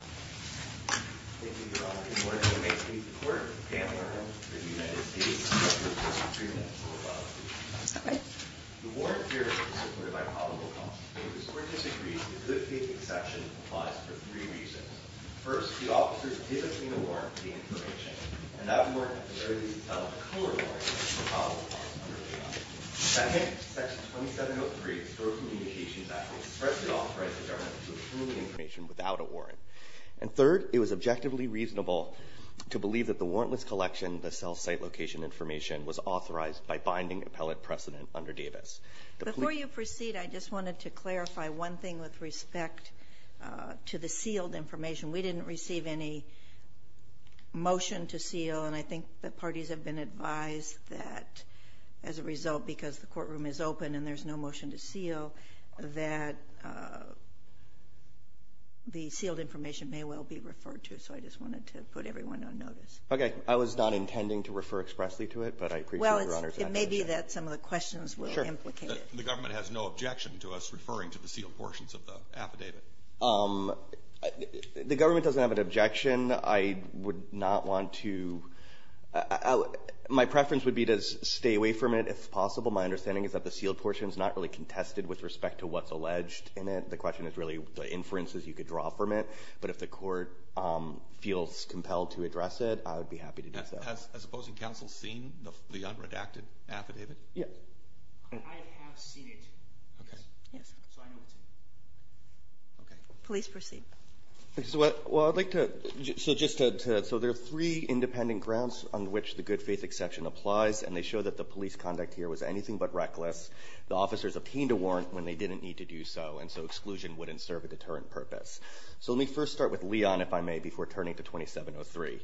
Thank you, Your Honor. Good morning, and may it please the Court, the panel, and the United States Attorney General, Mr. Truman, and Mr. McAuliffe. The warrant period is supported by probable cause, and to a certain degree, the good faith exception applies for three reasons. First, the officers did obtain a warrant for the information, and that warrant has already been settled. A co-warrant is a probable cause under the law. Second, Section 2703 of the Federal Communications Act expressly authorizes the government to approve the information without a warrant. And third, it was objectively reasonable to believe that the warrantless collection of the cell site location information was authorized by binding appellate precedent under Davis. Before you proceed, I just wanted to clarify one thing with respect to the sealed information. We didn't receive any motion to seal, and I think the parties have been advised that as a result, because the courtroom is open and there's no motion to seal, that the sealed information may well be referred to. So I just wanted to put everyone on notice. Roberts. Okay. I was not intending to refer expressly to it, but I appreciate Your Honor's affirmation. Well, it may be that some of the questions were implicated. The government has no objection to us referring to the sealed portions of the affidavit. The government doesn't have an objection. I would not want to. My preference would be to stay away from it, if possible. My understanding is that the sealed portion is not really contested with respect to what's alleged in it. The question is really the inferences you could draw from it. But if the court feels compelled to address it, I would be happy to do so. Has opposing counsel seen the unredacted affidavit? Yes. I have seen it. Okay. Yes. So I know it, too. Okay. Please proceed. Well, I'd like to, so just to, so there are three independent grounds on which the good faith exception applies, and they show that the police conduct here was anything but reckless. The officers obtained a warrant when they didn't need to do so, and so exclusion wouldn't serve a deterrent purpose. So let me first start with Leon, if I may, before turning to 2703.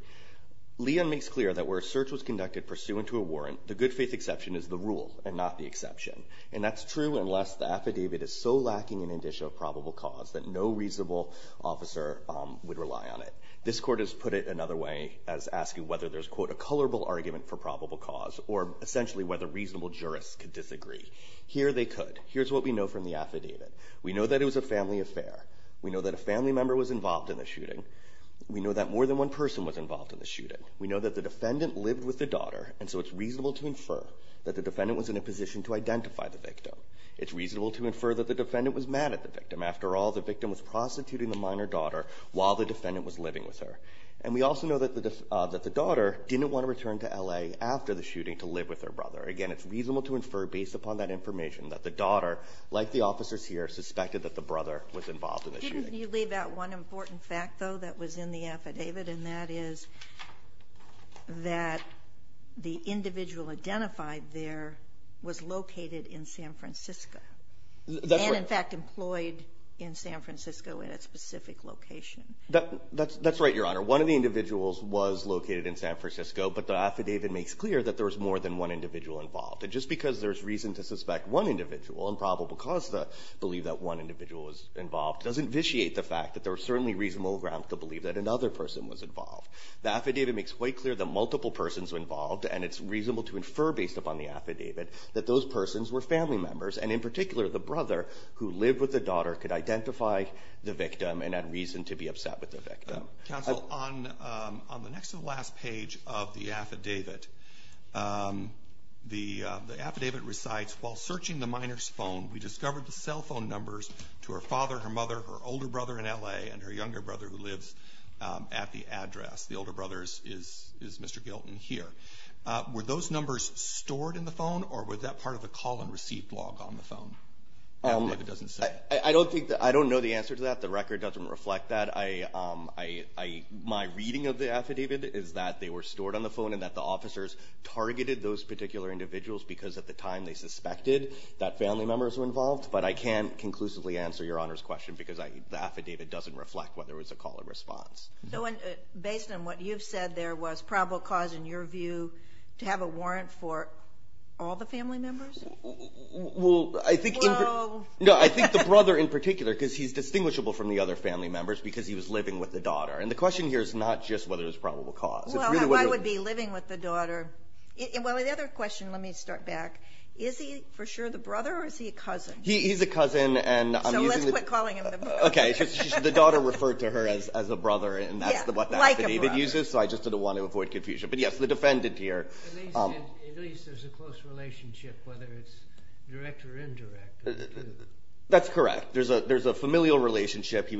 Leon makes clear that where a search was conducted pursuant to a warrant, the good faith exception is the rule and not the exception. And that's true unless the affidavit is so lacking in indicia of probable cause that no reasonable officer would rely on it. This Court has put it another way as asking whether there's, quote, a colorable argument for probable cause or essentially whether reasonable jurists could disagree. Here they could. Here's what we know from the affidavit. We know that it was a family affair. We know that a family member was involved in the shooting. We know that more than one person was involved in the shooting. We know that the defendant lived with the daughter, and so it's reasonable to infer that the defendant was in a position to identify the victim. It's reasonable to infer that the defendant was mad at the victim. After all, the victim was prostituting the minor daughter while the defendant was living with her. And we also know that the daughter didn't want to return to L.A. after the shooting to live with her brother. Again, it's reasonable to infer based upon that information that the daughter, like the officers here, suspected that the brother was involved in the shooting. Can you leave out one important fact, though, that was in the affidavit, and that is that the individual identified there was located in San Francisco. That's right. And, in fact, employed in San Francisco in a specific location. That's right, Your Honor. One of the individuals was located in San Francisco, but the affidavit makes clear that there was more than one individual involved. And just because there's reason to suspect one individual and probable cause to believe that one individual was involved doesn't vitiate the fact that there are certainly reasonable grounds to believe that another person was involved. The affidavit makes quite clear that multiple persons were involved, and it's reasonable to infer based upon the affidavit that those persons were family members, and in particular the brother who lived with the daughter could identify the victim and had reason to be upset with the victim. Counsel, on the next to the last page of the affidavit, the affidavit recites, While searching the minor's phone, we discovered the cell phone numbers to her father, her mother, her older brother in L.A., and her younger brother who lives at the address. The older brother is Mr. Gilton here. Were those numbers stored in the phone, or was that part of the call-and-receive log on the phone? I don't know the answer to that. The record doesn't reflect that. My reading of the affidavit is that they were stored on the phone and that the officers targeted those particular individuals because at the time they suspected that family members were involved, but I can't conclusively answer Your Honor's question because the affidavit doesn't reflect whether it was a call-and-response. Based on what you've said there was probable cause, in your view, to have a warrant for all the family members? Well, I think the brother in particular, because he's distinguishable from the other family members because he was living with the daughter. And the question here is not just whether it was probable cause. I would be living with the daughter. Well, the other question, let me start back. Is he for sure the brother, or is he a cousin? He's a cousin. So let's quit calling him the brother. Okay, the daughter referred to her as a brother, and that's what the affidavit uses, so I just didn't want to avoid confusion. But yes, the defendant here. At least there's a close relationship, whether it's direct or indirect. That's correct. There's a familial relationship.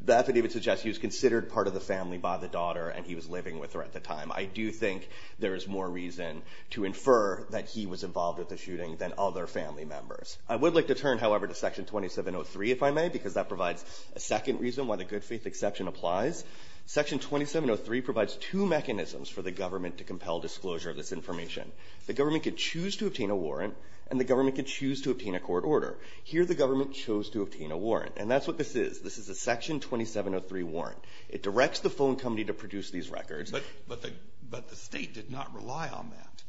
The affidavit suggests he was considered part of the family by the daughter, and he was living with her at the time. I do think there is more reason to infer that he was involved with the shooting than other family members. I would like to turn, however, to Section 2703, if I may, because that provides a second reason why the good-faith exception applies. Section 2703 provides two mechanisms for the government to compel disclosure of this information. The government could choose to obtain a warrant, and the government could choose to obtain a court order. Here the government chose to obtain a warrant, and that's what this is. This is a Section 2703 warrant. It directs the phone company to produce these records. But the State did not rely on that.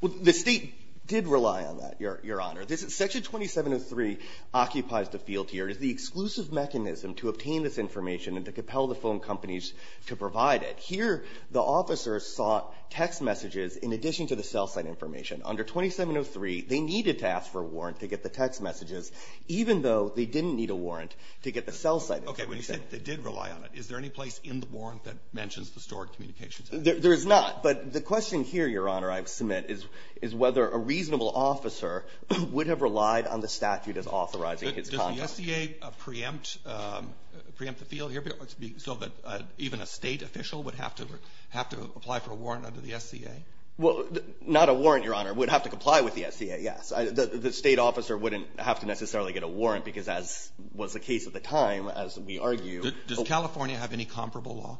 Well, the State did rely on that, Your Honor. Section 2703 occupies the field here. It's the exclusive mechanism to obtain this information and to compel the phone companies to provide it. Here the officers sought text messages in addition to the cell site information. Under 2703, they needed to ask for a warrant to get the text messages, even though they didn't need a warrant to get the cell site information. Okay. When you say they did rely on it, is there any place in the warrant that mentions the stored communications? There is not. But the question here, Your Honor, I submit, is whether a reasonable officer would have relied on the statute as authorizing his contact. Does the SCA preempt the field here so that even a State official would have to apply for a warrant under the SCA? Well, not a warrant, Your Honor. It would have to comply with the SCA, yes. The State officer wouldn't have to necessarily get a warrant because, as was the case at the time, as we argue. Does California have any comparable law?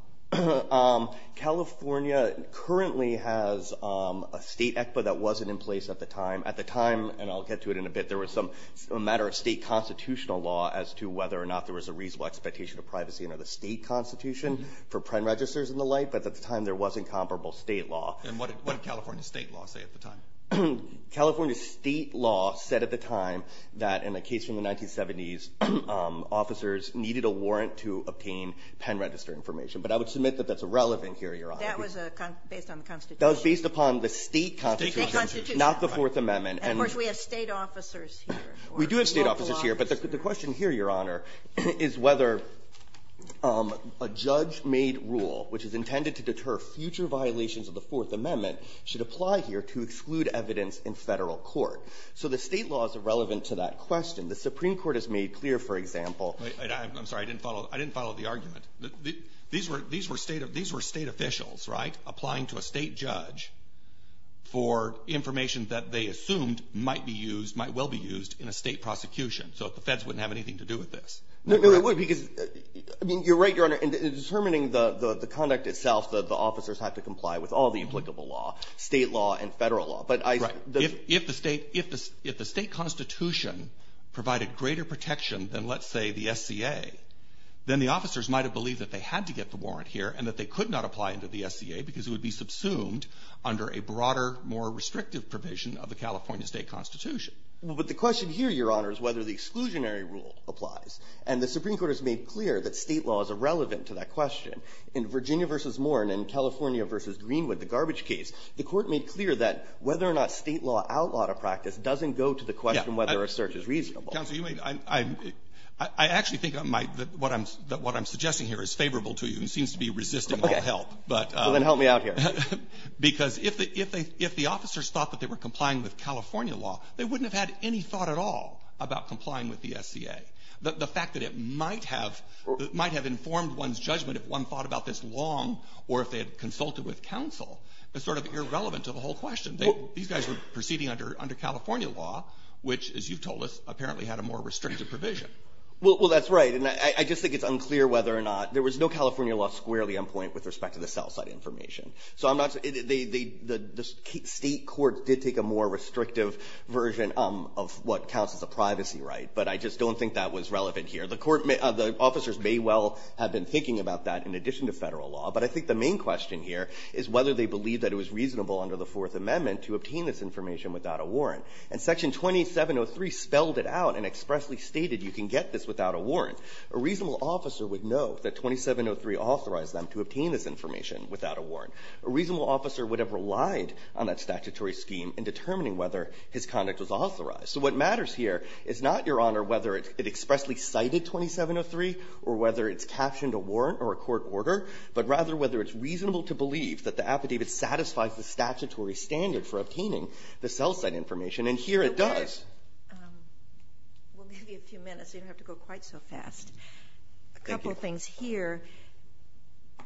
California currently has a State ECPA that wasn't in place at the time. At the time, and I'll get to it in a bit, there was some matter of State constitutional law as to whether or not there was a reasonable expectation of privacy under the State constitution for pen registers and the like. But at the time, there wasn't comparable State law. And what did California State law say at the time? California State law said at the time that in a case from the 1970s, officers needed a warrant to obtain pen register information. But I would submit that that's irrelevant here, Your Honor. That was based on the Constitution. That was based upon the State constitution. State constitution. Not the Fourth Amendment. And, of course, we have State officers here. We do have State officers here. But the question here, Your Honor, is whether a judge-made rule, which is intended to deter future violations of the Fourth Amendment, should apply here to exclude evidence in Federal court. So the State law is irrelevant to that question. The Supreme Court has made clear, for example. I'm sorry. I didn't follow. I didn't follow the argument. These were State officials, right, applying to a State judge for information that they assumed might be used, might well be used in a State prosecution. So the Feds wouldn't have anything to do with this. No, they wouldn't. Because, I mean, you're right, Your Honor. In determining the conduct itself, the officers have to comply with all the applicable law, State law and Federal law. Right. If the State constitution provided greater protection than, let's say, the SCA, then the officers might have believed that they had to get the warrant here and that they could not apply under the SCA because it would be subsumed under a broader, more restrictive provision of the California State constitution. Well, but the question here, Your Honor, is whether the exclusionary rule applies. And the Supreme Court has made clear that State law is irrelevant to that question. In Virginia v. Moore and in California v. Greenwood, the garbage case, the Court made clear that whether or not State law outlawed a practice doesn't go to the question whether a search is reasonable. Counsel, you may be right. I actually think that what I'm suggesting here is favorable to you. You seem to be resisting all help. Okay. Well, then help me out here. Because if the officers thought that they were complying with California law, they wouldn't have had any thought at all about complying with the SCA. The fact that it might have informed one's judgment if one thought about this long or if they had consulted with counsel is sort of irrelevant to the whole question. These guys were proceeding under California law, which, as you've told us, apparently had a more restrictive provision. Well, that's right. And I just think it's unclear whether or not there was no California law squarely on point with respect to the sell-side information. So I'm not saying they – the State courts did take a more restrictive version of what counts as a privacy right. But I just don't think that was relevant here. The Court may – the officers may well have been thinking about that in addition to Federal law. But I think the main question here is whether they believe that it was reasonable under the Fourth Amendment to obtain this information without a warrant. And Section 2703 spelled it out and expressly stated you can get this without a warrant. A reasonable officer would know that 2703 authorized them to obtain this information without a warrant. A reasonable officer would have relied on that statutory scheme in determining whether his conduct was authorized. So what matters here is not, Your Honor, whether it expressly cited 2703 or whether it's captioned a warrant or a court order, but rather whether it's reasonable to believe that the affidavit satisfies the statutory standard for obtaining the sell-side information. And here it does. We'll give you a few minutes. You don't have to go quite so fast. Thank you. A couple things here.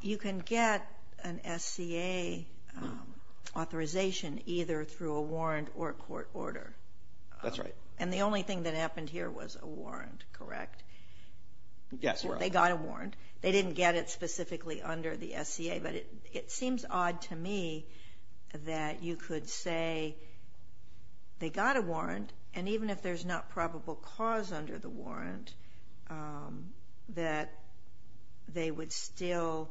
You can get an SCA authorization either through a warrant or a court order. That's right. And the only thing that happened here was a warrant, correct? Yes, Your Honor. They got a warrant. They didn't get it specifically under the SCA. But it seems odd to me that you could say they got a warrant, and even if there's not probable cause under the warrant, that they would still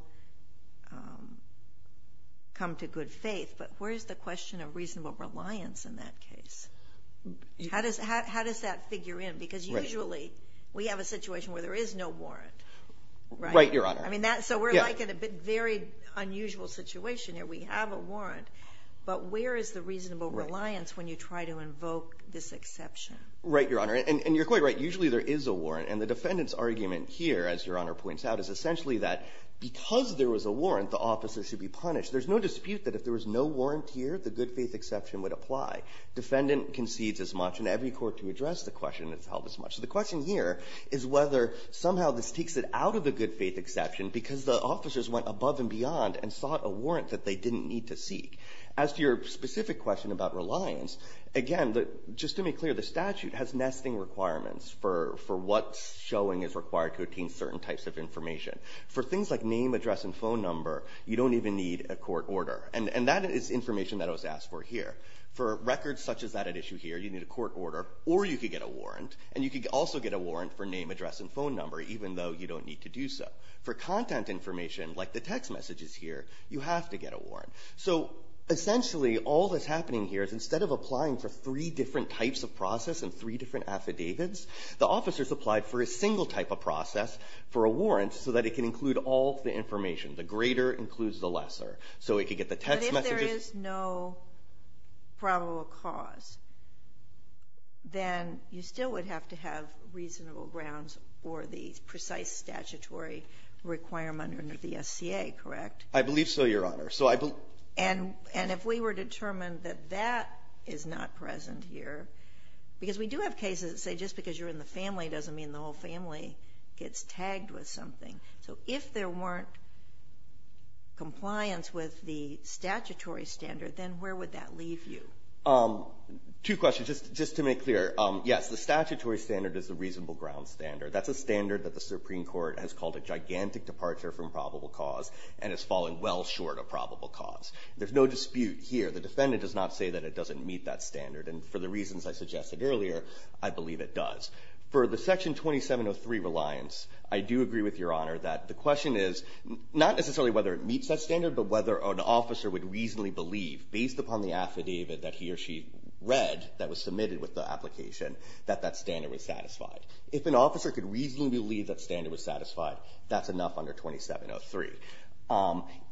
come to good faith. But where's the question of reasonable reliance in that case? How does that figure in? Because usually we have a situation where there is no warrant, right? Right, Your Honor. So we're like in a very unusual situation here. We have a warrant. But where is the reasonable reliance when you try to invoke this exception? Right, Your Honor. And you're quite right. Usually there is a warrant. And the defendant's argument here, as Your Honor points out, is essentially that because there was a warrant, the officer should be punished. There's no dispute that if there was no warrant here, the good faith exception would apply. Defendant concedes as much, and every court to address the question has held as much. So the question here is whether somehow this takes it out of the good faith exception because the officers went above and beyond and sought a warrant that they didn't need to seek. As to your specific question about reliance, again, just to be clear, the statute has nesting requirements for what showing is required to obtain certain types of information. For things like name, address, and phone number, you don't even need a court order. And that is information that was asked for here. For records such as that at issue here, you need a court order, or you could get a warrant, and you could also get a warrant for name, address, and phone number, even though you don't need to do so. For content information like the text messages here, you have to get a warrant. So essentially all that's happening here is instead of applying for three different types of process and three different affidavits, the officers applied for a single type of process for a warrant so that it can include all of the information. The greater includes the lesser. So it could get the text messages. Sotomayor, if there is no probable cause, then you still would have to have reasonable grounds for the precise statutory requirement under the SCA, correct? I believe so, Your Honor. So I believe so. And if we were determined that that is not present here, because we do have cases that say just because you're in the family doesn't mean the whole family gets tagged with something. So if there weren't compliance with the statutory standard, then where would that leave you? Two questions. Just to make clear, yes, the statutory standard is the reasonable ground standard. That's a standard that the Supreme Court has called a gigantic departure from probable cause and has fallen well short of probable cause. There's no dispute here. The defendant does not say that it doesn't meet that standard, and for the reasons I suggested earlier, I believe it does. For the Section 2703 reliance, I do agree with Your Honor that the question is not necessarily whether it meets that standard, but whether an officer would reasonably believe, based upon the affidavit that he or she read that was submitted with the application, that that standard was satisfied. If an officer could reasonably believe that standard was satisfied, that's enough under 2703.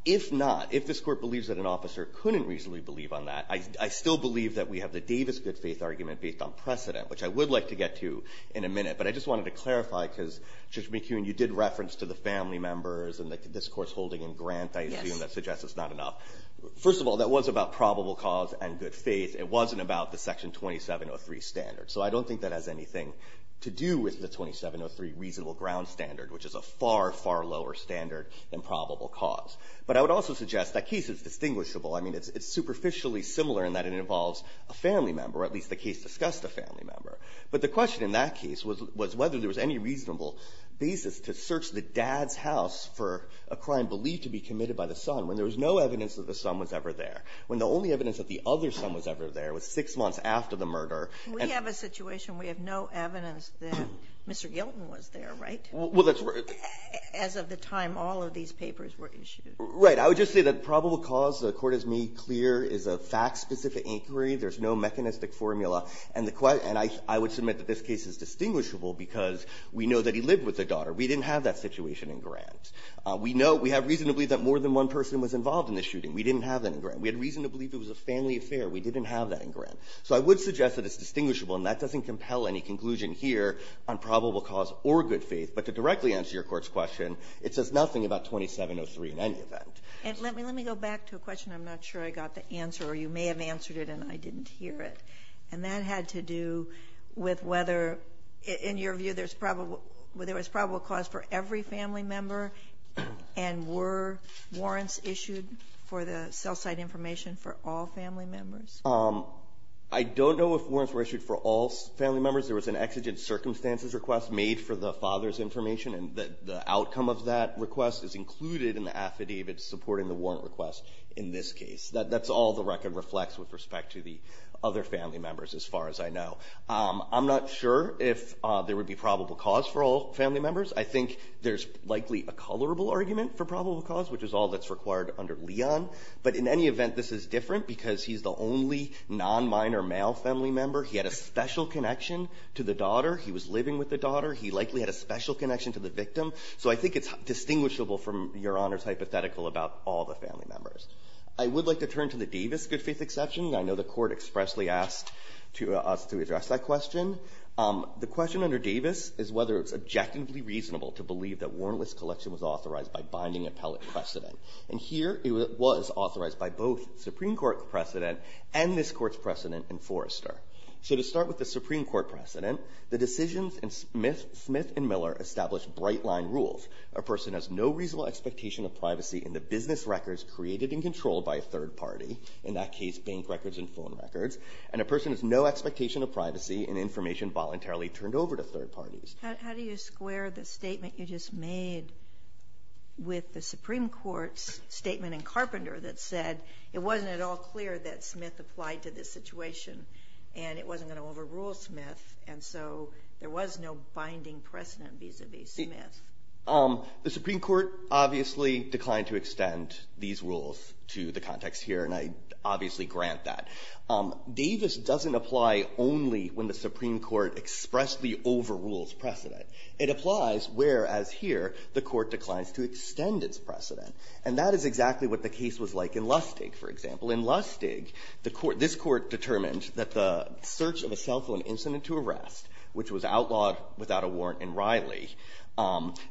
If not, if this Court believes that an officer couldn't reasonably believe on that, I still believe that we have the Davis good-faith argument based on precedent, which I would like to get to in a minute. But I just wanted to clarify because, Judge McKeown, you did reference to the family members and the discourse holding in Grant, I assume, that suggests it's not enough. First of all, that was about probable cause and good faith. It wasn't about the Section 2703 standard. So I don't think that has anything to do with the 2703 reasonable ground standard, which is a far, far lower standard than probable cause. But I would also suggest that case is distinguishable. I mean, it's superficially similar in that it involves a family member, or at least the case discussed a family member. But the question in that case was whether there was any reasonable basis to search the dad's house for a crime believed to be committed by the son, when there was no evidence that the son was ever there, when the only evidence that the other son was ever there was six months after the murder. And we have a situation. We have no evidence that Mr. Gilton was there, right? Well, that's right. As of the time all of these papers were issued. Right. I would just say that probable cause, the Court has made clear, is a fact-specific inquiry. There's no mechanistic formula. And I would submit that this case is distinguishable because we know that he lived with their daughter. We didn't have that situation in Grant. We know we have reason to believe that more than one person was involved in the shooting. We didn't have that in Grant. We had reason to believe it was a family affair. We didn't have that in Grant. So I would suggest that it's distinguishable. And that doesn't compel any conclusion here on probable cause or good faith. But to directly answer your Court's question, it says nothing about 2703 in any event. And let me go back to a question. I'm not sure I got the answer. You may have answered it, and I didn't hear it. And that had to do with whether, in your view, there was probable cause for every family member? And were warrants issued for the cell site information for all family members? I don't know if warrants were issued for all family members. There was an exigent circumstances request made for the father's information. And the outcome of that request is included in the affidavit supporting the warrant request in this case. That's all the record reflects with respect to the other family members as far as I know. I'm not sure if there would be probable cause for all family members. I think there's likely a colorable argument for probable cause, which is all that's required under Leon. But in any event, this is different because he's the only nonminor male family member. He had a special connection to the daughter. He was living with the daughter. He likely had a special connection to the victim. So I think it's distinguishable from Your Honor's hypothetical about all the family members. I would like to turn to the Davis good faith exception. I know the Court expressly asked to us to address that question. The question under Davis is whether it's objectively reasonable to believe that warrantless collection was authorized by binding appellate precedent. And here it was authorized by both Supreme Court precedent and this Court's precedent in Forrester. So to start with the Supreme Court precedent, the decisions in Smith and Miller established bright-line rules. A person has no reasonable expectation of privacy in the business records created and controlled by a third party. In that case, bank records and phone records. And a person has no expectation of privacy in information voluntarily turned over to third parties. How do you square the statement you just made with the Supreme Court's statement in Carpenter that said it wasn't at all clear that Smith applied to this situation and it wasn't going to overrule Smith and so there was no binding precedent vis-a-vis Smith? The Supreme Court obviously declined to extend these rules to the context here, and I obviously grant that. Davis doesn't apply only when the Supreme Court expressly overrules precedent. It applies whereas here the Court declines to extend its precedent. And that is exactly what the case was like in Lustig, for example. In Lustig, the Court – this Court determined that the search of a cell phone incident to arrest, which was outlawed without a warrant in Riley,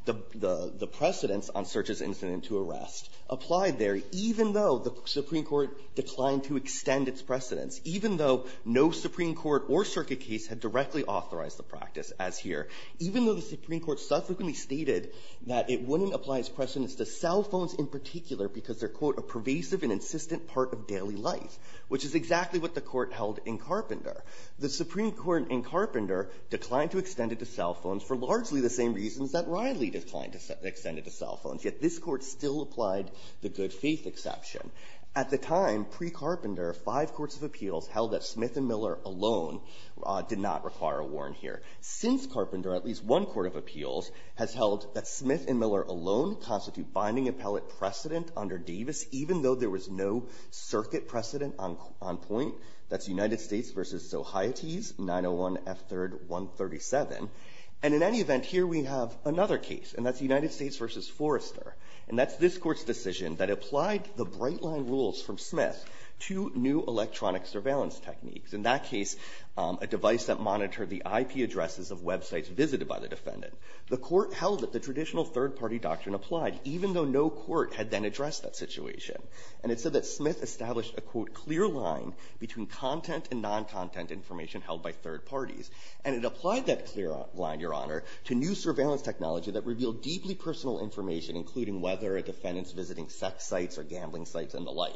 the precedents on search of incident to arrest applied there even though the Supreme Court declined to extend its precedents, even though no Supreme Court or circuit case had directly authorized the practice as here, even though the Supreme Court subsequently stated that it wouldn't apply its precedents to cell phones in particular because they're, quote, a pervasive and insistent part of daily life, which is exactly what the Court held in Carpenter. The Supreme Court in Carpenter declined to extend it to cell phones for largely the same reasons that Riley declined to extend it to cell phones, yet this Court still applied the good-faith exception. At the time, pre-Carpenter, five courts of appeals held that Smith and Miller alone did not require a warrant here. Since Carpenter, at least one court of appeals has held that Smith and Miller alone constitute binding appellate precedent under Davis, even though there was no circuit precedent on point. That's United States v. Zohaites, 901 F. 3rd. 137. And in any event, here we have another case, and that's United States v. Forrester. And that's this Court's decision that applied the bright-line rules from Smith to new electronic surveillance techniques, in that case a device that monitored the IP addresses of websites visited by the defendant. The Court held that the traditional third-party doctrine applied, even though no court had then addressed that situation. And it said that Smith established a, quote, clear line between content and non-content information held by third parties. And it applied that clear line, Your Honor, to new surveillance technology that revealed deeply personal information, including whether a defendant is visiting sex sites or gambling sites and the like.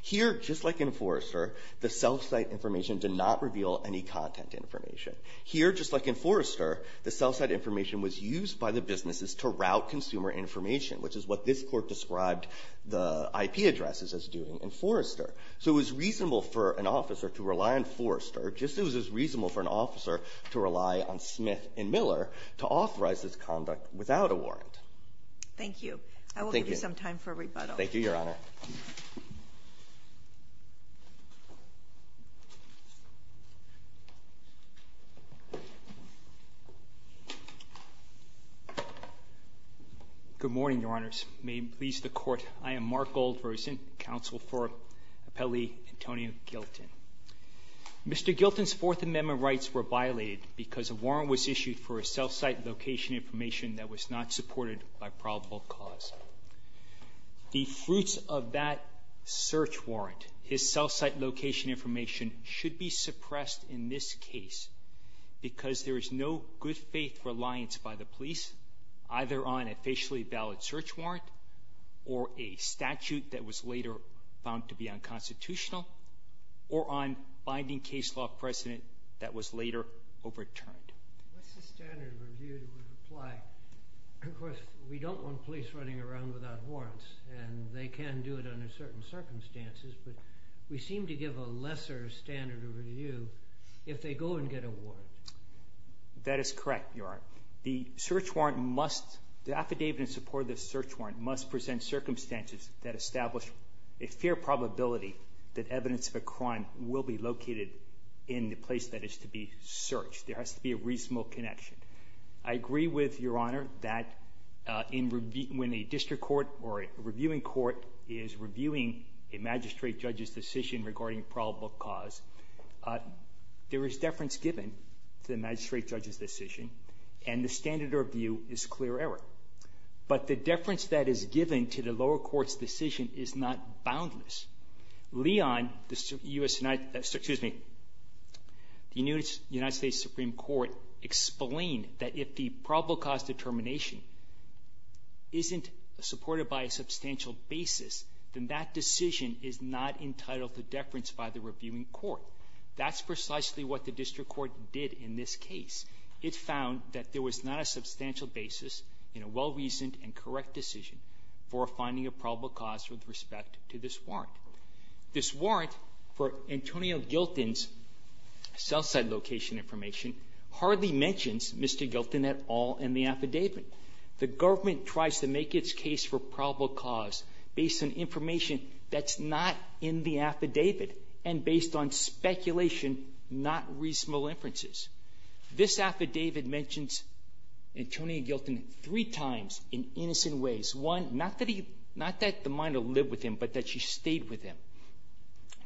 Here, just like in Forrester, the self-site information did not reveal any content information. Here, just like in Forrester, the self-site information was used by the businesses to route consumer information, which is what this Court described the IP addresses as doing in Forrester. So it was reasonable for an officer to rely on Forrester, just as it was reasonable for an officer to rely on Smith and Miller to authorize this conduct without a warrant. Thank you. I will give you some time for rebuttal. Thank you, Your Honor. Go ahead. Good morning, Your Honors. May it please the Court. I am Mark Goldversen, counsel for Appellee Antonio Gilton. Mr. Gilton's Fourth Amendment rights were violated because a warrant was issued for a self-site location information that was not supported by probable cause. The fruits of that search warrant, his self-site location information, should be suppressed in this case because there is no good faith reliance by the police either on a facially valid search warrant or a statute that was later found to be unconstitutional or on binding case law precedent that was later overturned. What's the standard review that would apply? Of course, we don't want police running around without warrants and they can do it under certain circumstances, but we seem to give a lesser standard of review if they go and get a warrant. That is correct, Your Honor. The search warrant must, the affidavit in support of the search warrant must present circumstances that establish a fair probability that evidence of a crime will be located in the place that is to be searched. There has to be a reasonable connection. I agree with Your Honor that when a district court or a reviewing court is reviewing a magistrate judge's decision regarding probable cause, there is deference given to the magistrate judge's decision and the standard of review is clear error. But the deference that is given to the lower court's decision is not boundless. Leon, the U.S. United States, excuse me, the United States Supreme Court explained that if the probable cause determination isn't supported by a substantial basis, then that decision is not entitled to deference by the reviewing court. That's precisely what the district court did in this case. It found that there was not a substantial basis in a well-reasoned and correct decision for finding a probable cause with respect to this warrant. This warrant for Antonio Gilton's cell site location information hardly mentions Mr. Gilton at all in the affidavit. The government tries to make its case for probable cause based on information that's not in the affidavit and based on speculation, not reasonable inferences. This affidavit mentions Antonio Gilton three times in innocent ways. One, not that the minor lived with him, but that she stayed with him.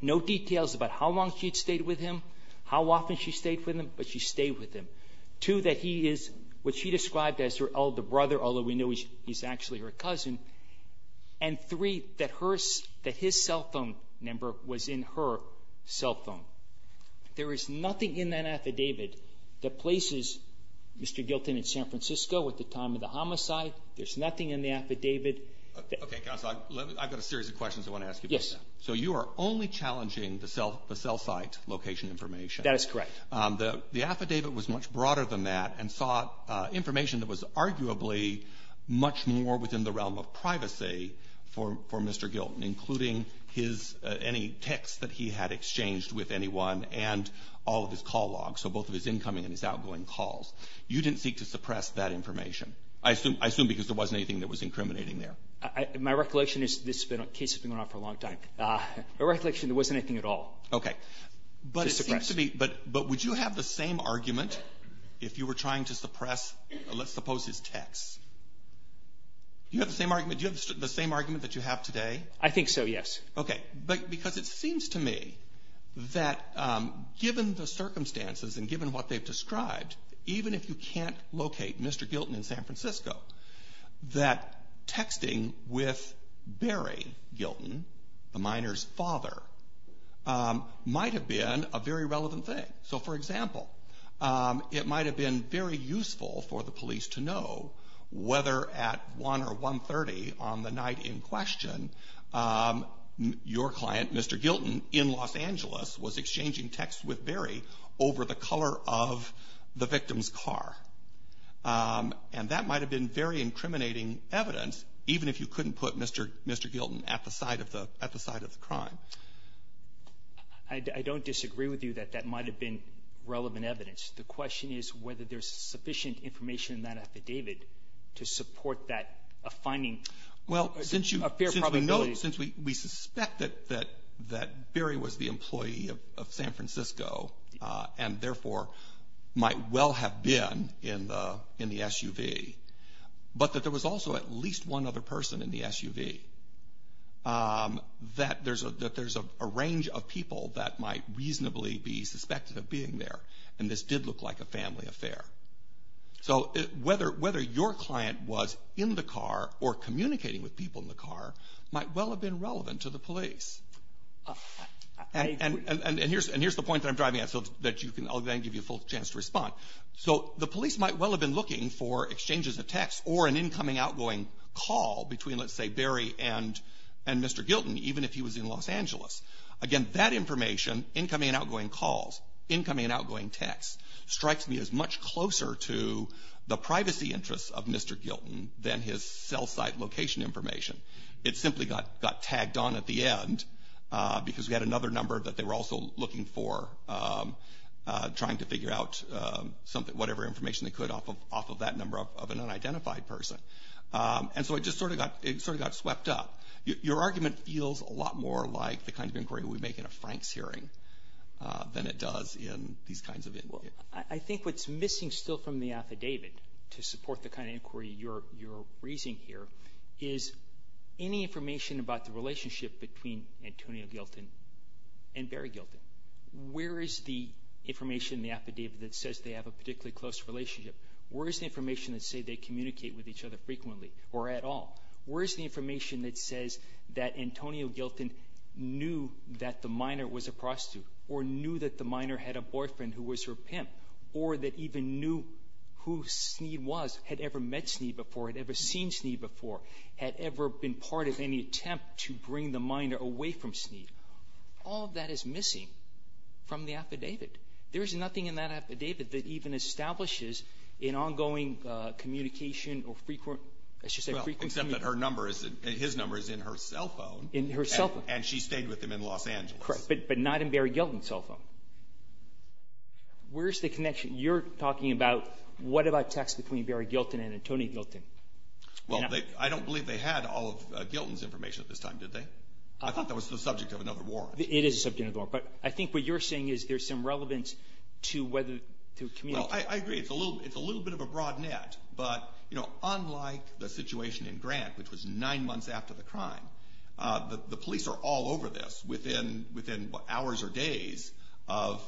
No details about how long she'd stayed with him, how often she stayed with him, but she stayed with him. Two, that he is what she described as her elder brother, although we know he's actually her cousin. And three, that his cell phone number was in her cell phone. There is nothing in that affidavit that places Mr. Gilton in San Francisco at the time of the homicide. There's nothing in the affidavit. Roberts. I've got a series of questions I want to ask you about that. Yes. So you are only challenging the cell site location information. That is correct. The affidavit was much broader than that and sought information that was arguably much more within the realm of privacy for Mr. Gilton, including his any text that he had exchanged with anyone and all of his call logs. So both of his incoming and his outgoing calls. You didn't seek to suppress that information. I assume because there wasn't anything that was incriminating there. My recollection is this case has been going on for a long time. My recollection, there wasn't anything at all. Okay. To suppress. But would you have the same argument if you were trying to suppress, let's suppose, his text? Do you have the same argument that you have today? I think so, yes. Okay. Because it seems to me that given the circumstances and given what they've described, even if you can't locate Mr. Gilton in San Francisco, that texting with Barry Gilton, the miner's father, might have been a very relevant thing. So, for example, it might have been very useful for the police to know whether at 1 or 1.30 on the night in question, your client, Mr. Gilton, in Los Angeles was exchanging texts with Barry over the color of the victim's car. And that might have been very incriminating evidence, even if you couldn't put Mr. Gilton at the site of the crime. I don't disagree with you that that might have been relevant evidence. The question is whether there's sufficient information in that affidavit to support that finding. Well, since we suspect that Barry was the employee of San Francisco and, therefore, might well have been in the SUV, but that there was also at least one other person in the SUV, that there's a range of people that might reasonably be suspected of being there. And this did look like a family affair. So, whether your client was in the car or communicating with people in the car might well have been relevant to the police. And here's the point that I'm driving at so that I'll then give you a full chance to respond. So, the police might well have been looking for exchanges of texts or an incoming outgoing call between, let's say, Barry and Mr. Gilton, even if he was in Los Angeles. Again, that information, incoming and outgoing calls, incoming and outgoing texts, strikes me as much closer to the privacy interests of Mr. Gilton than his cell site location information. It simply got tagged on at the end because we had another number that they were also looking for, trying to figure out whatever information they could off of that number of an unidentified person. And so, it just sort of got swept up. Your argument feels a lot more like the kind of inquiry we make in a Franks hearing than it does in these kinds of inquiries. Well, I think what's missing still from the affidavit to support the kind of inquiry you're raising here is any information about the relationship between Antonio Gilton and Barry Gilton. Where is the information in the affidavit that says they have a particularly close relationship? Where is the information that say they communicate with each other frequently or at all? Where is the information that says that Antonio Gilton knew that the minor was a prostitute or knew that the minor had a boyfriend who was her pimp or that even knew who Snead was, had ever met Snead before, had ever seen Snead before, had ever been part of any attempt to bring the minor away from Snead? All of that is missing from the affidavit. There is nothing in that affidavit that even establishes an ongoing communication or frequency. Well, except that his number is in her cell phone. In her cell phone. And she stayed with him in Los Angeles. Correct, but not in Barry Gilton's cell phone. Where is the connection? You're talking about what about texts between Barry Gilton and Antonio Gilton. Well, I don't believe they had all of Gilton's information at this time, did they? I thought that was the subject of another warrant. It is the subject of another warrant, but I think what you're saying is there's some relevance to whether to communicate. Well, I agree. It's a little bit of a broad net, but unlike the situation in Grant, which was nine months after the crime, the police are all over this within hours or days of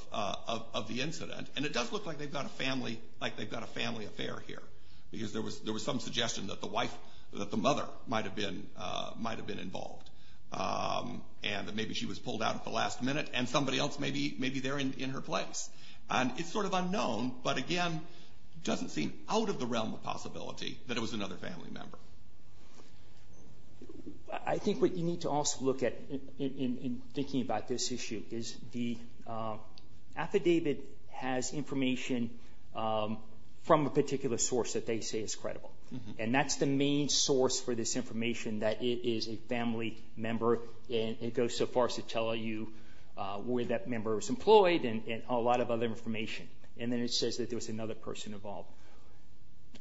the incident. And it does look like they've got a family affair here, because there was some suggestion that the mother might have been involved, and that maybe she was pulled out at the last minute, and somebody else may be there in her place. And it's sort of unknown, but again, doesn't seem out of the realm of possibility that it was another family member. I think what you need to also look at in thinking about this issue is the affidavit has information from a particular source that they say is credible. And that's the main source for this information, that it is a family member, and it goes so And then it says that there was another person involved.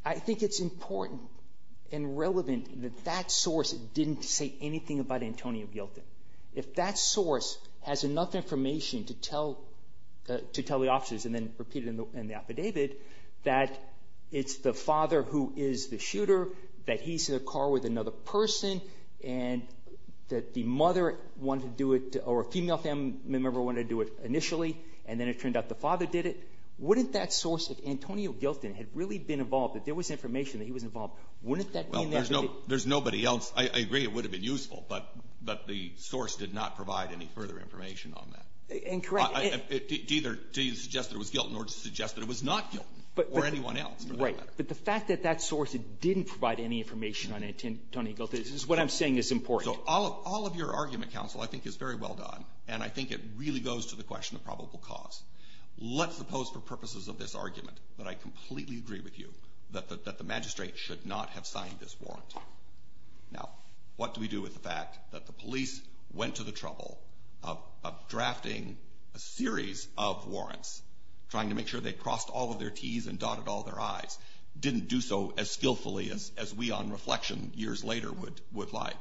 I think it's important and relevant that that source didn't say anything about Antonio Gilton. If that source has enough information to tell the officers, and then repeat it in the affidavit, that it's the father who is the shooter, that he's in a car with another person, and that the mother wanted to do it, or a female family member wanted to do it initially, and then it turned out the father did it, wouldn't that source, if Antonio Gilton had really been involved, if there was information that he was involved, wouldn't that mean that Well, there's nobody else. I agree it would have been useful, but the source did not provide any further information on that. And correct. Neither did it suggest that it was Gilton, nor did it suggest that it was not Gilton, or anyone else, for that matter. Right. But the fact that that source didn't provide any information on Antonio Gilton is what I'm saying is important. So all of your argument, counsel, I think is very well done, and I think it really goes to the question of probable cause. Let's suppose for purposes of this argument that I completely agree with you that the magistrate should not have signed this warrant. Now, what do we do with the fact that the police went to the trouble of drafting a series of warrants, trying to make sure they crossed all of their T's and dotted all their I's, didn't do so as skillfully as we on reflection years later would like.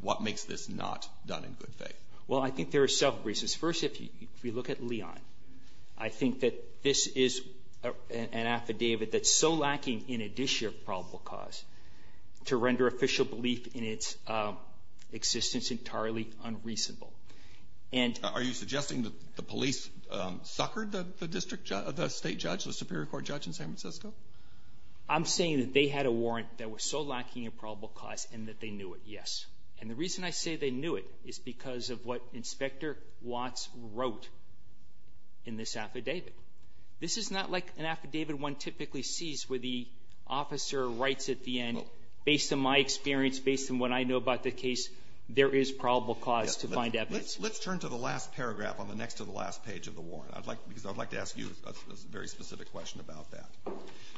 What makes this not done in good faith? Well, I think there are several reasons. First, if you look at Leon, I think that this is an affidavit that's so lacking in addition of probable cause to render official belief in its existence entirely unreasonable. And — Are you suggesting that the police suckered the district judge, the State judge, the Superior Court judge in San Francisco? I'm saying that they had a warrant that was so lacking in probable cause and that they knew it, yes. And the reason I say they knew it is because of what Inspector Watts wrote in this affidavit. This is not like an affidavit one typically sees where the officer writes at the end, based on my experience, based on what I know about the case, there is probable cause to find evidence. Let's turn to the last paragraph on the next to the last page of the warrant, because I'd like to ask you a very specific question about that.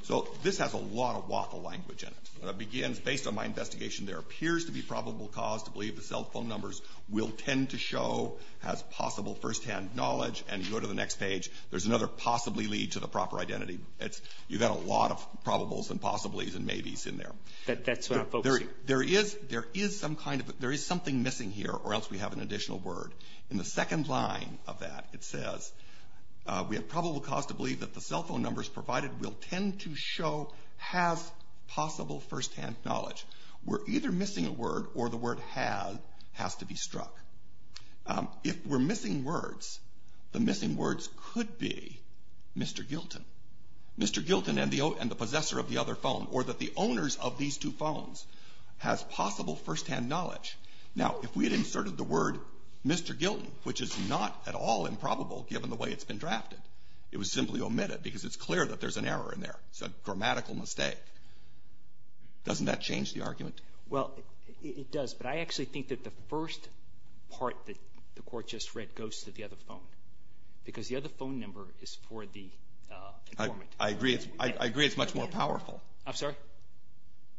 So this has a lot of waffle language in it. It begins, based on my investigation, there appears to be probable cause to believe the cell phone numbers will tend to show as possible firsthand knowledge. And you go to the next page, there's another possibly lead to the proper identity. It's — you've got a lot of probables and possibilities and maybes in there. That's what I'm focusing on. There is — there is some kind of — there is something missing here, or else we have an additional word. In the second line of that, it says, we have probable cause to believe that the cell phone numbers will tend to show as possible firsthand knowledge. We're either missing a word, or the word have has to be struck. If we're missing words, the missing words could be Mr. Gilton. Mr. Gilton and the possessor of the other phone, or that the owners of these two phones has possible firsthand knowledge. Now, if we had inserted the word Mr. Gilton, which is not at all improbable, given the way it's been drafted, it was simply omitted, because it's clear that there's an error in there. It's a grammatical mistake. Doesn't that change the argument? Well, it does. But I actually think that the first part that the Court just read goes to the other phone, because the other phone number is for the informant. I agree. I agree it's much more powerful. I'm sorry?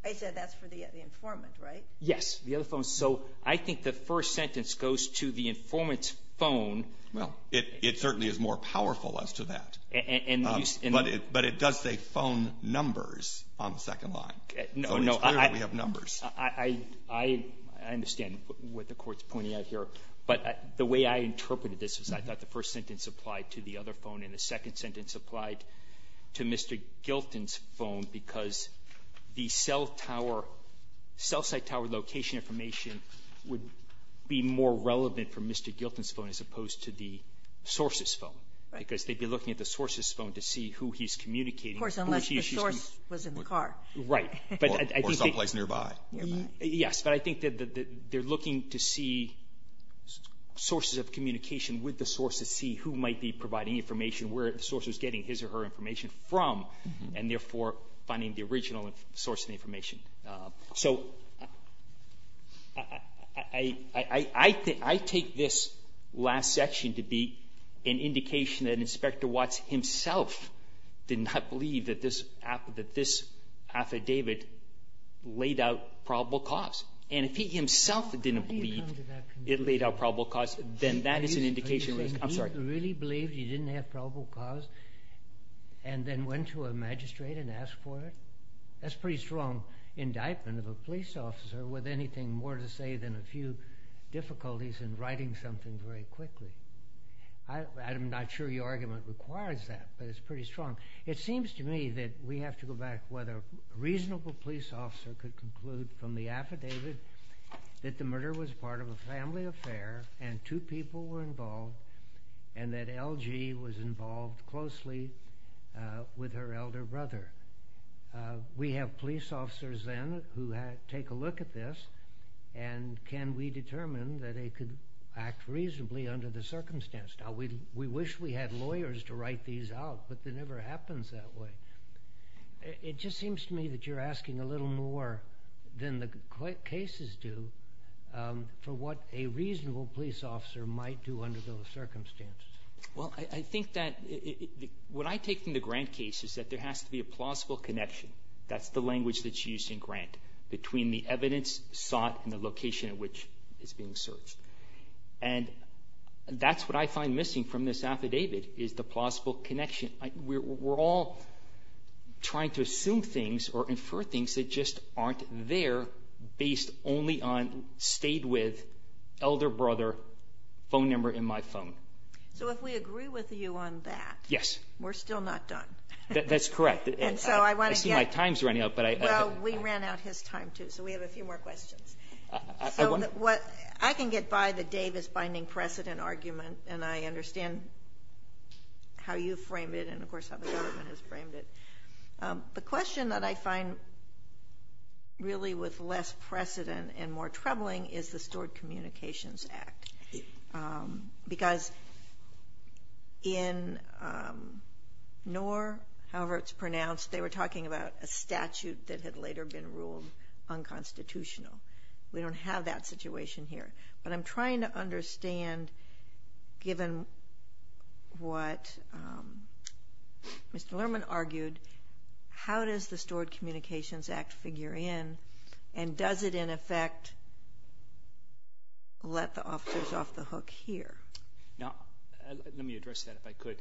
I said that's for the informant, right? Yes, the other phone. So I think the first sentence goes to the informant's phone. Well, it certainly is more powerful as to that. But it does say phone numbers on the second line. No, no. It's clear that we have numbers. I understand what the Court's pointing out here. But the way I interpreted this is I thought the first sentence applied to the other phone, and the second sentence applied to Mr. Gilton's phone, because the cell tower – cell site tower location information would be more relevant for Mr. Gilton's phone as opposed to the source's phone, because they'd be looking at the source's phone to see who he's communicating. Of course, unless the source was in the car. Right. Or someplace nearby. Yes. But I think that they're looking to see sources of communication with the source to see who might be providing information, where the source is getting his or her information from, and therefore finding the original source of information. So I take this last section to be an indication that Inspector Watts himself did not believe that this affidavit laid out probable cause. And if he himself didn't believe it laid out probable cause, then that is an indication – I'm sorry. You really believed you didn't have probable cause and then went to a magistrate and asked for it? That's a pretty strong indictment of a police officer with anything more to say than a few difficulties in writing something very quickly. I'm not sure your argument requires that, but it's pretty strong. It seems to me that we have to go back to whether a reasonable police officer could conclude from the affidavit that the murder was part of a family affair and two people were involved and that LG was involved closely with her elder brother. We have police officers then who take a look at this and can we determine that they could act reasonably under the circumstance. Now, we wish we had lawyers to write these out, but it never happens that way. It just seems to me that you're asking a little more than the cases do for what a reasonable police officer might do under those circumstances. Well, I think that what I take from the Grant case is that there has to be a plausible connection – that's the language that's used in Grant – between the evidence sought and the location at which it's being searched. And that's what I find missing from this affidavit is the plausible connection. We're all trying to assume things or infer things that just aren't there based only on stayed with, elder brother, phone number in my phone. So if we agree with you on that, we're still not done. That's correct. I see my time's running out. Well, we ran out his time too, so we have a few more questions. I can get by the Davis binding precedent argument and I understand how you frame it and of course how the government has framed it. The question that I find really with less precedent and more troubling is the Stored Communications Act. Because in Knorr, however it's pronounced, they were talking about a statute that had later been ruled unconstitutional. We don't have that situation here. But I'm trying to understand, given what Mr. Lerman argued, how does the Stored Communications Act figure in and does it, in effect, let the officers off the hook here? Now, let me address that if I could.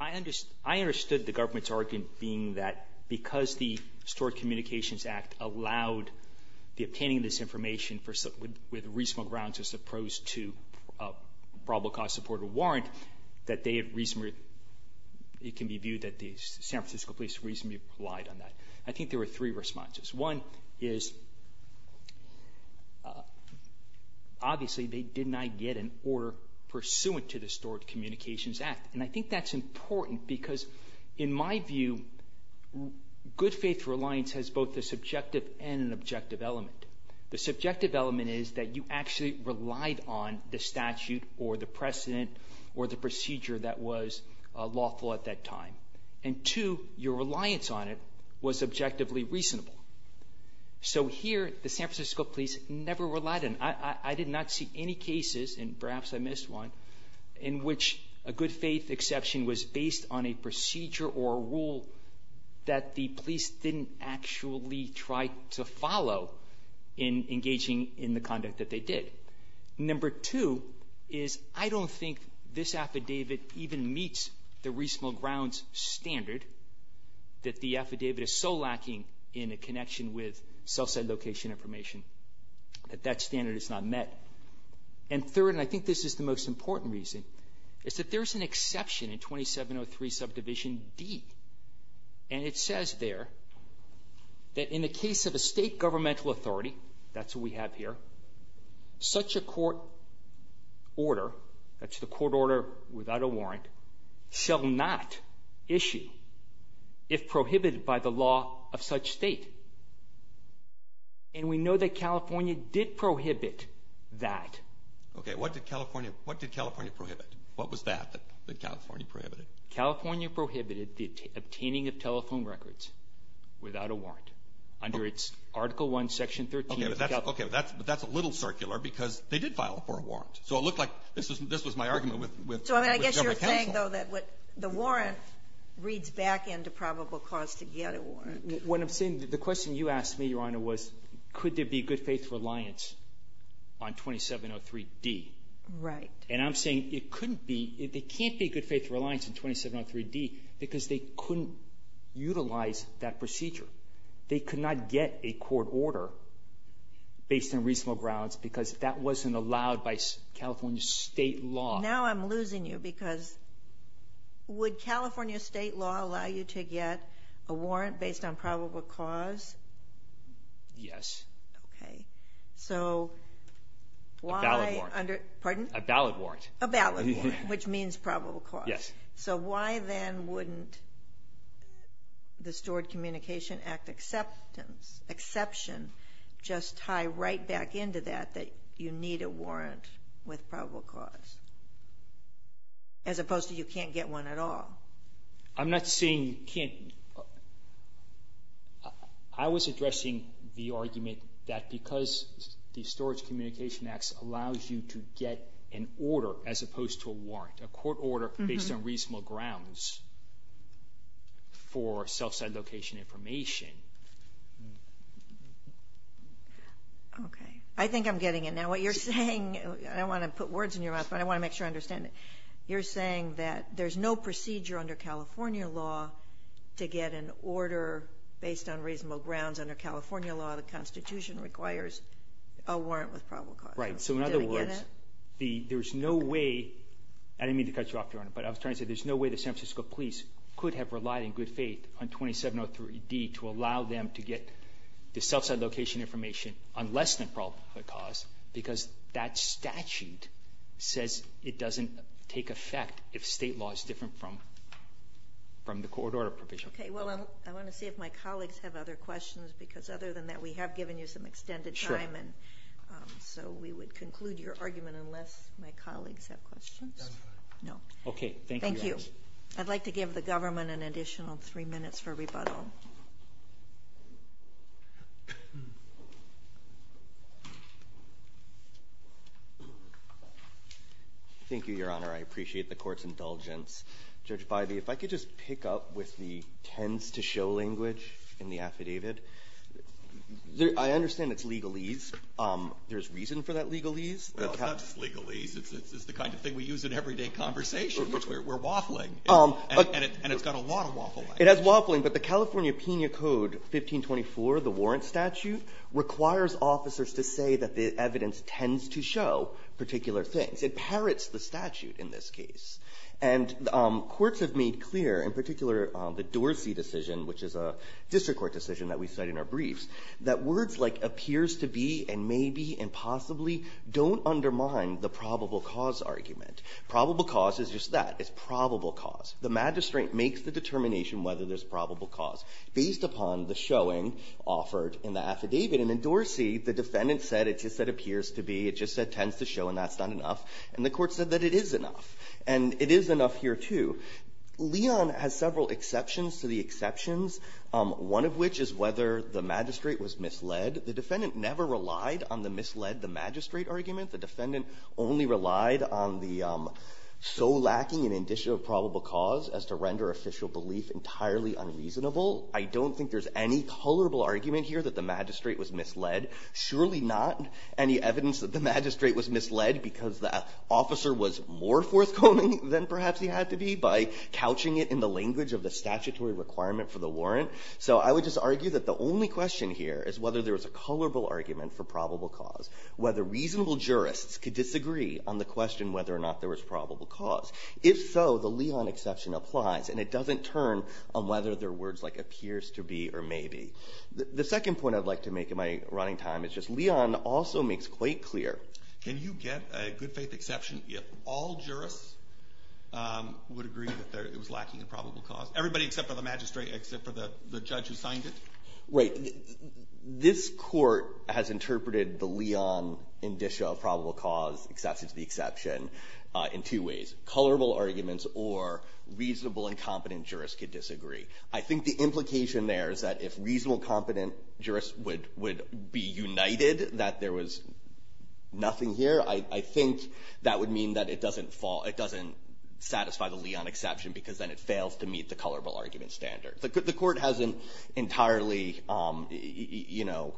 I understood the government's argument being that because the Stored Communications Act allowed the obtaining of this information with reasonable grounds as opposed to probable cause support or warrant, that it can be viewed that the San Francisco police reasonably relied on that. I think there were three responses. One is, obviously, they did not get an order pursuant to the Stored Communications Act. And I think that's important because, in my view, good faith reliance has both a subjective and an objective element. The subjective element is that you actually relied on the statute or the precedent or the procedure that was lawful at that time. And two, your reliance on it was objectively reasonable. I did not see any cases, and perhaps I missed one, in which a good faith exception was based on a procedure or a rule that the police didn't actually try to follow in engaging in the conduct that they did. Number two is, I don't think this affidavit even meets the reasonable grounds standard that the affidavit is so lacking in a connection with cell site location information that that affidavit is not met. And third, and I think this is the most important reason, is that there's an exception in 2703 Subdivision D, and it says there that in the case of a state governmental authority, that's what we have here, such a court order, that's the court order without a warrant, shall not issue if prohibited by the law of such state. And we know that California did prohibit that. Okay. What did California do? What did California prohibit? What was that that California prohibited? California prohibited the obtaining of telephone records without a warrant under its Article I, Section 13. Okay. But that's a little circular because they did file for a warrant. So it looked like this was my argument with government counsel. to get a warrant. What I'm saying, the question you asked me, Your Honor, was could there be good faith reliance on 2703 D? Right. And I'm saying it couldn't be, there can't be good faith reliance on 2703 D because they couldn't utilize that procedure. They could not get a court order based on reasonable grounds because that wasn't allowed by California state law. Now I'm losing you because would California state law allow you to get a warrant based on probable cause? Yes. Okay. So why... A valid warrant. Pardon? A valid warrant. A valid warrant, which means probable cause. Yes. So why then wouldn't the Stored Communication Act exception just tie right back into that, that you need a warrant with probable cause? As opposed to you can't get one at all. I'm not saying you can't. I was addressing the argument that because the Storage Communication Act allows you to get an order as opposed to a warrant, a court order based on reasonable grounds for self-site location information. Okay. I think I'm getting it now. What you're saying, I don't want to put words in your mouth, but I want to make sure I understand it. You're saying that there's no procedure under California law to get an order based on reasonable grounds under California law. The Constitution requires a warrant with probable cause. Right. So in other words, there's no way, I didn't mean to cut you off, Your Honor, but I was trying to say there's no way the San Francisco police could have relied in good faith on allow them to get the self-site location information on less than probable cause because that statute says it doesn't take effect if state law is different from the court order provision. Okay. Well, I want to see if my colleagues have other questions because other than that, we have given you some extended time. Sure. And so we would conclude your argument unless my colleagues have questions. No. Okay. Thank you, Your Honor. Thank you. I'd like to give the government an additional three minutes for rebuttal. Thank you, Your Honor. I appreciate the court's indulgence. Judge Bybee, if I could just pick up with the tends to show language in the affidavit. I understand it's legalese. There's reason for that legalese. Well, it's not just legalese. It's the kind of thing we use in everyday conversation. We're waffling, and it's got a lot of waffling. It has waffling, but the California Pena Code 1524, the warrant statute, requires officers to say that the evidence tends to show particular things. It parrots the statute in this case. And courts have made clear, in particular the Dorsey decision, which is a district court decision that we cite in our briefs, that words like appears to be and maybe and possibly don't undermine the probable cause argument. Probable cause is just that. It's probable cause. The magistrate makes the determination whether there's probable cause based upon the showing offered in the affidavit. And in Dorsey, the defendant said it's just that appears to be. It just said tends to show, and that's not enough. And the Court said that it is enough. And it is enough here, too. Leon has several exceptions to the exceptions, one of which is whether the magistrate was misled. The defendant never relied on the misled the magistrate argument. The defendant only relied on the so lacking in indicia of probable cause as to render official belief entirely unreasonable. I don't think there's any colorable argument here that the magistrate was misled, surely not any evidence that the magistrate was misled because the officer was more forthcoming than perhaps he had to be by couching it in the language of the statutory requirement for the warrant. So I would just argue that the only question here is whether there was a colorable argument for probable cause, whether reasonable jurists could disagree on the question whether or not there was probable cause. If so, the Leon exception applies, and it doesn't turn on whether there are words like appears to be or maybe. The second point I'd like to make in my running time is just Leon also makes quite clear. Can you get a good faith exception if all jurists would agree that it was lacking in probable cause, everybody except for the magistrate, except for the judge who signed it? Right. This Court has interpreted the Leon indicia of probable cause, except it's the exception, in two ways, colorable arguments or reasonable and competent jurists could disagree. I think the implication there is that if reasonable and competent jurists would be united that there was nothing here, I think that would mean that it doesn't satisfy the Leon exception because then it fails to meet the colorable argument standard. The Court hasn't entirely, you know,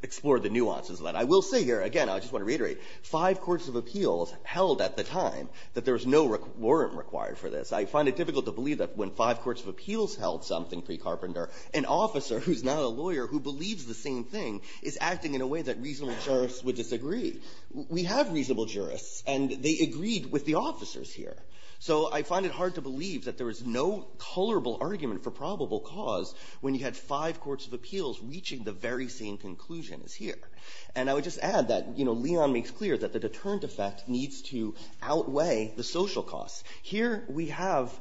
explored the nuances of that. I will say here, again, I just want to reiterate, five courts of appeals held at the time that there was no warrant required for this. I find it difficult to believe that when five courts of appeals held something, pre-Carpenter, an officer who's not a lawyer who believes the same thing is acting in a way that reasonable jurists would disagree. We have reasonable jurists, and they agreed with the officers here. So I find it hard to believe that there was no colorable argument for probable cause when you had five courts of appeals reaching the very same conclusion as here. And I would just add that, you know, Leon makes clear that the deterrent effect needs to outweigh the social cost. Here we have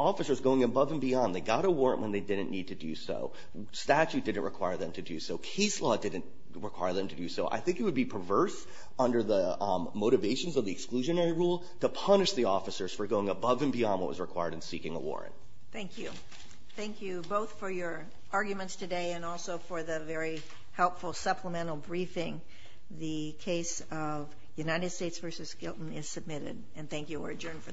officers going above and beyond. They got a warrant when they didn't need to do so. Statute didn't require them to do so. Case law didn't require them to do so. I think it would be perverse under the motivations of the exclusionary rule to punish the officers for going above and beyond what was required in seeking a warrant. Thank you. Thank you both for your arguments today and also for the very helpful supplemental briefing. The case of United States v. Skilton is submitted. And thank you. We're adjourned for the morning.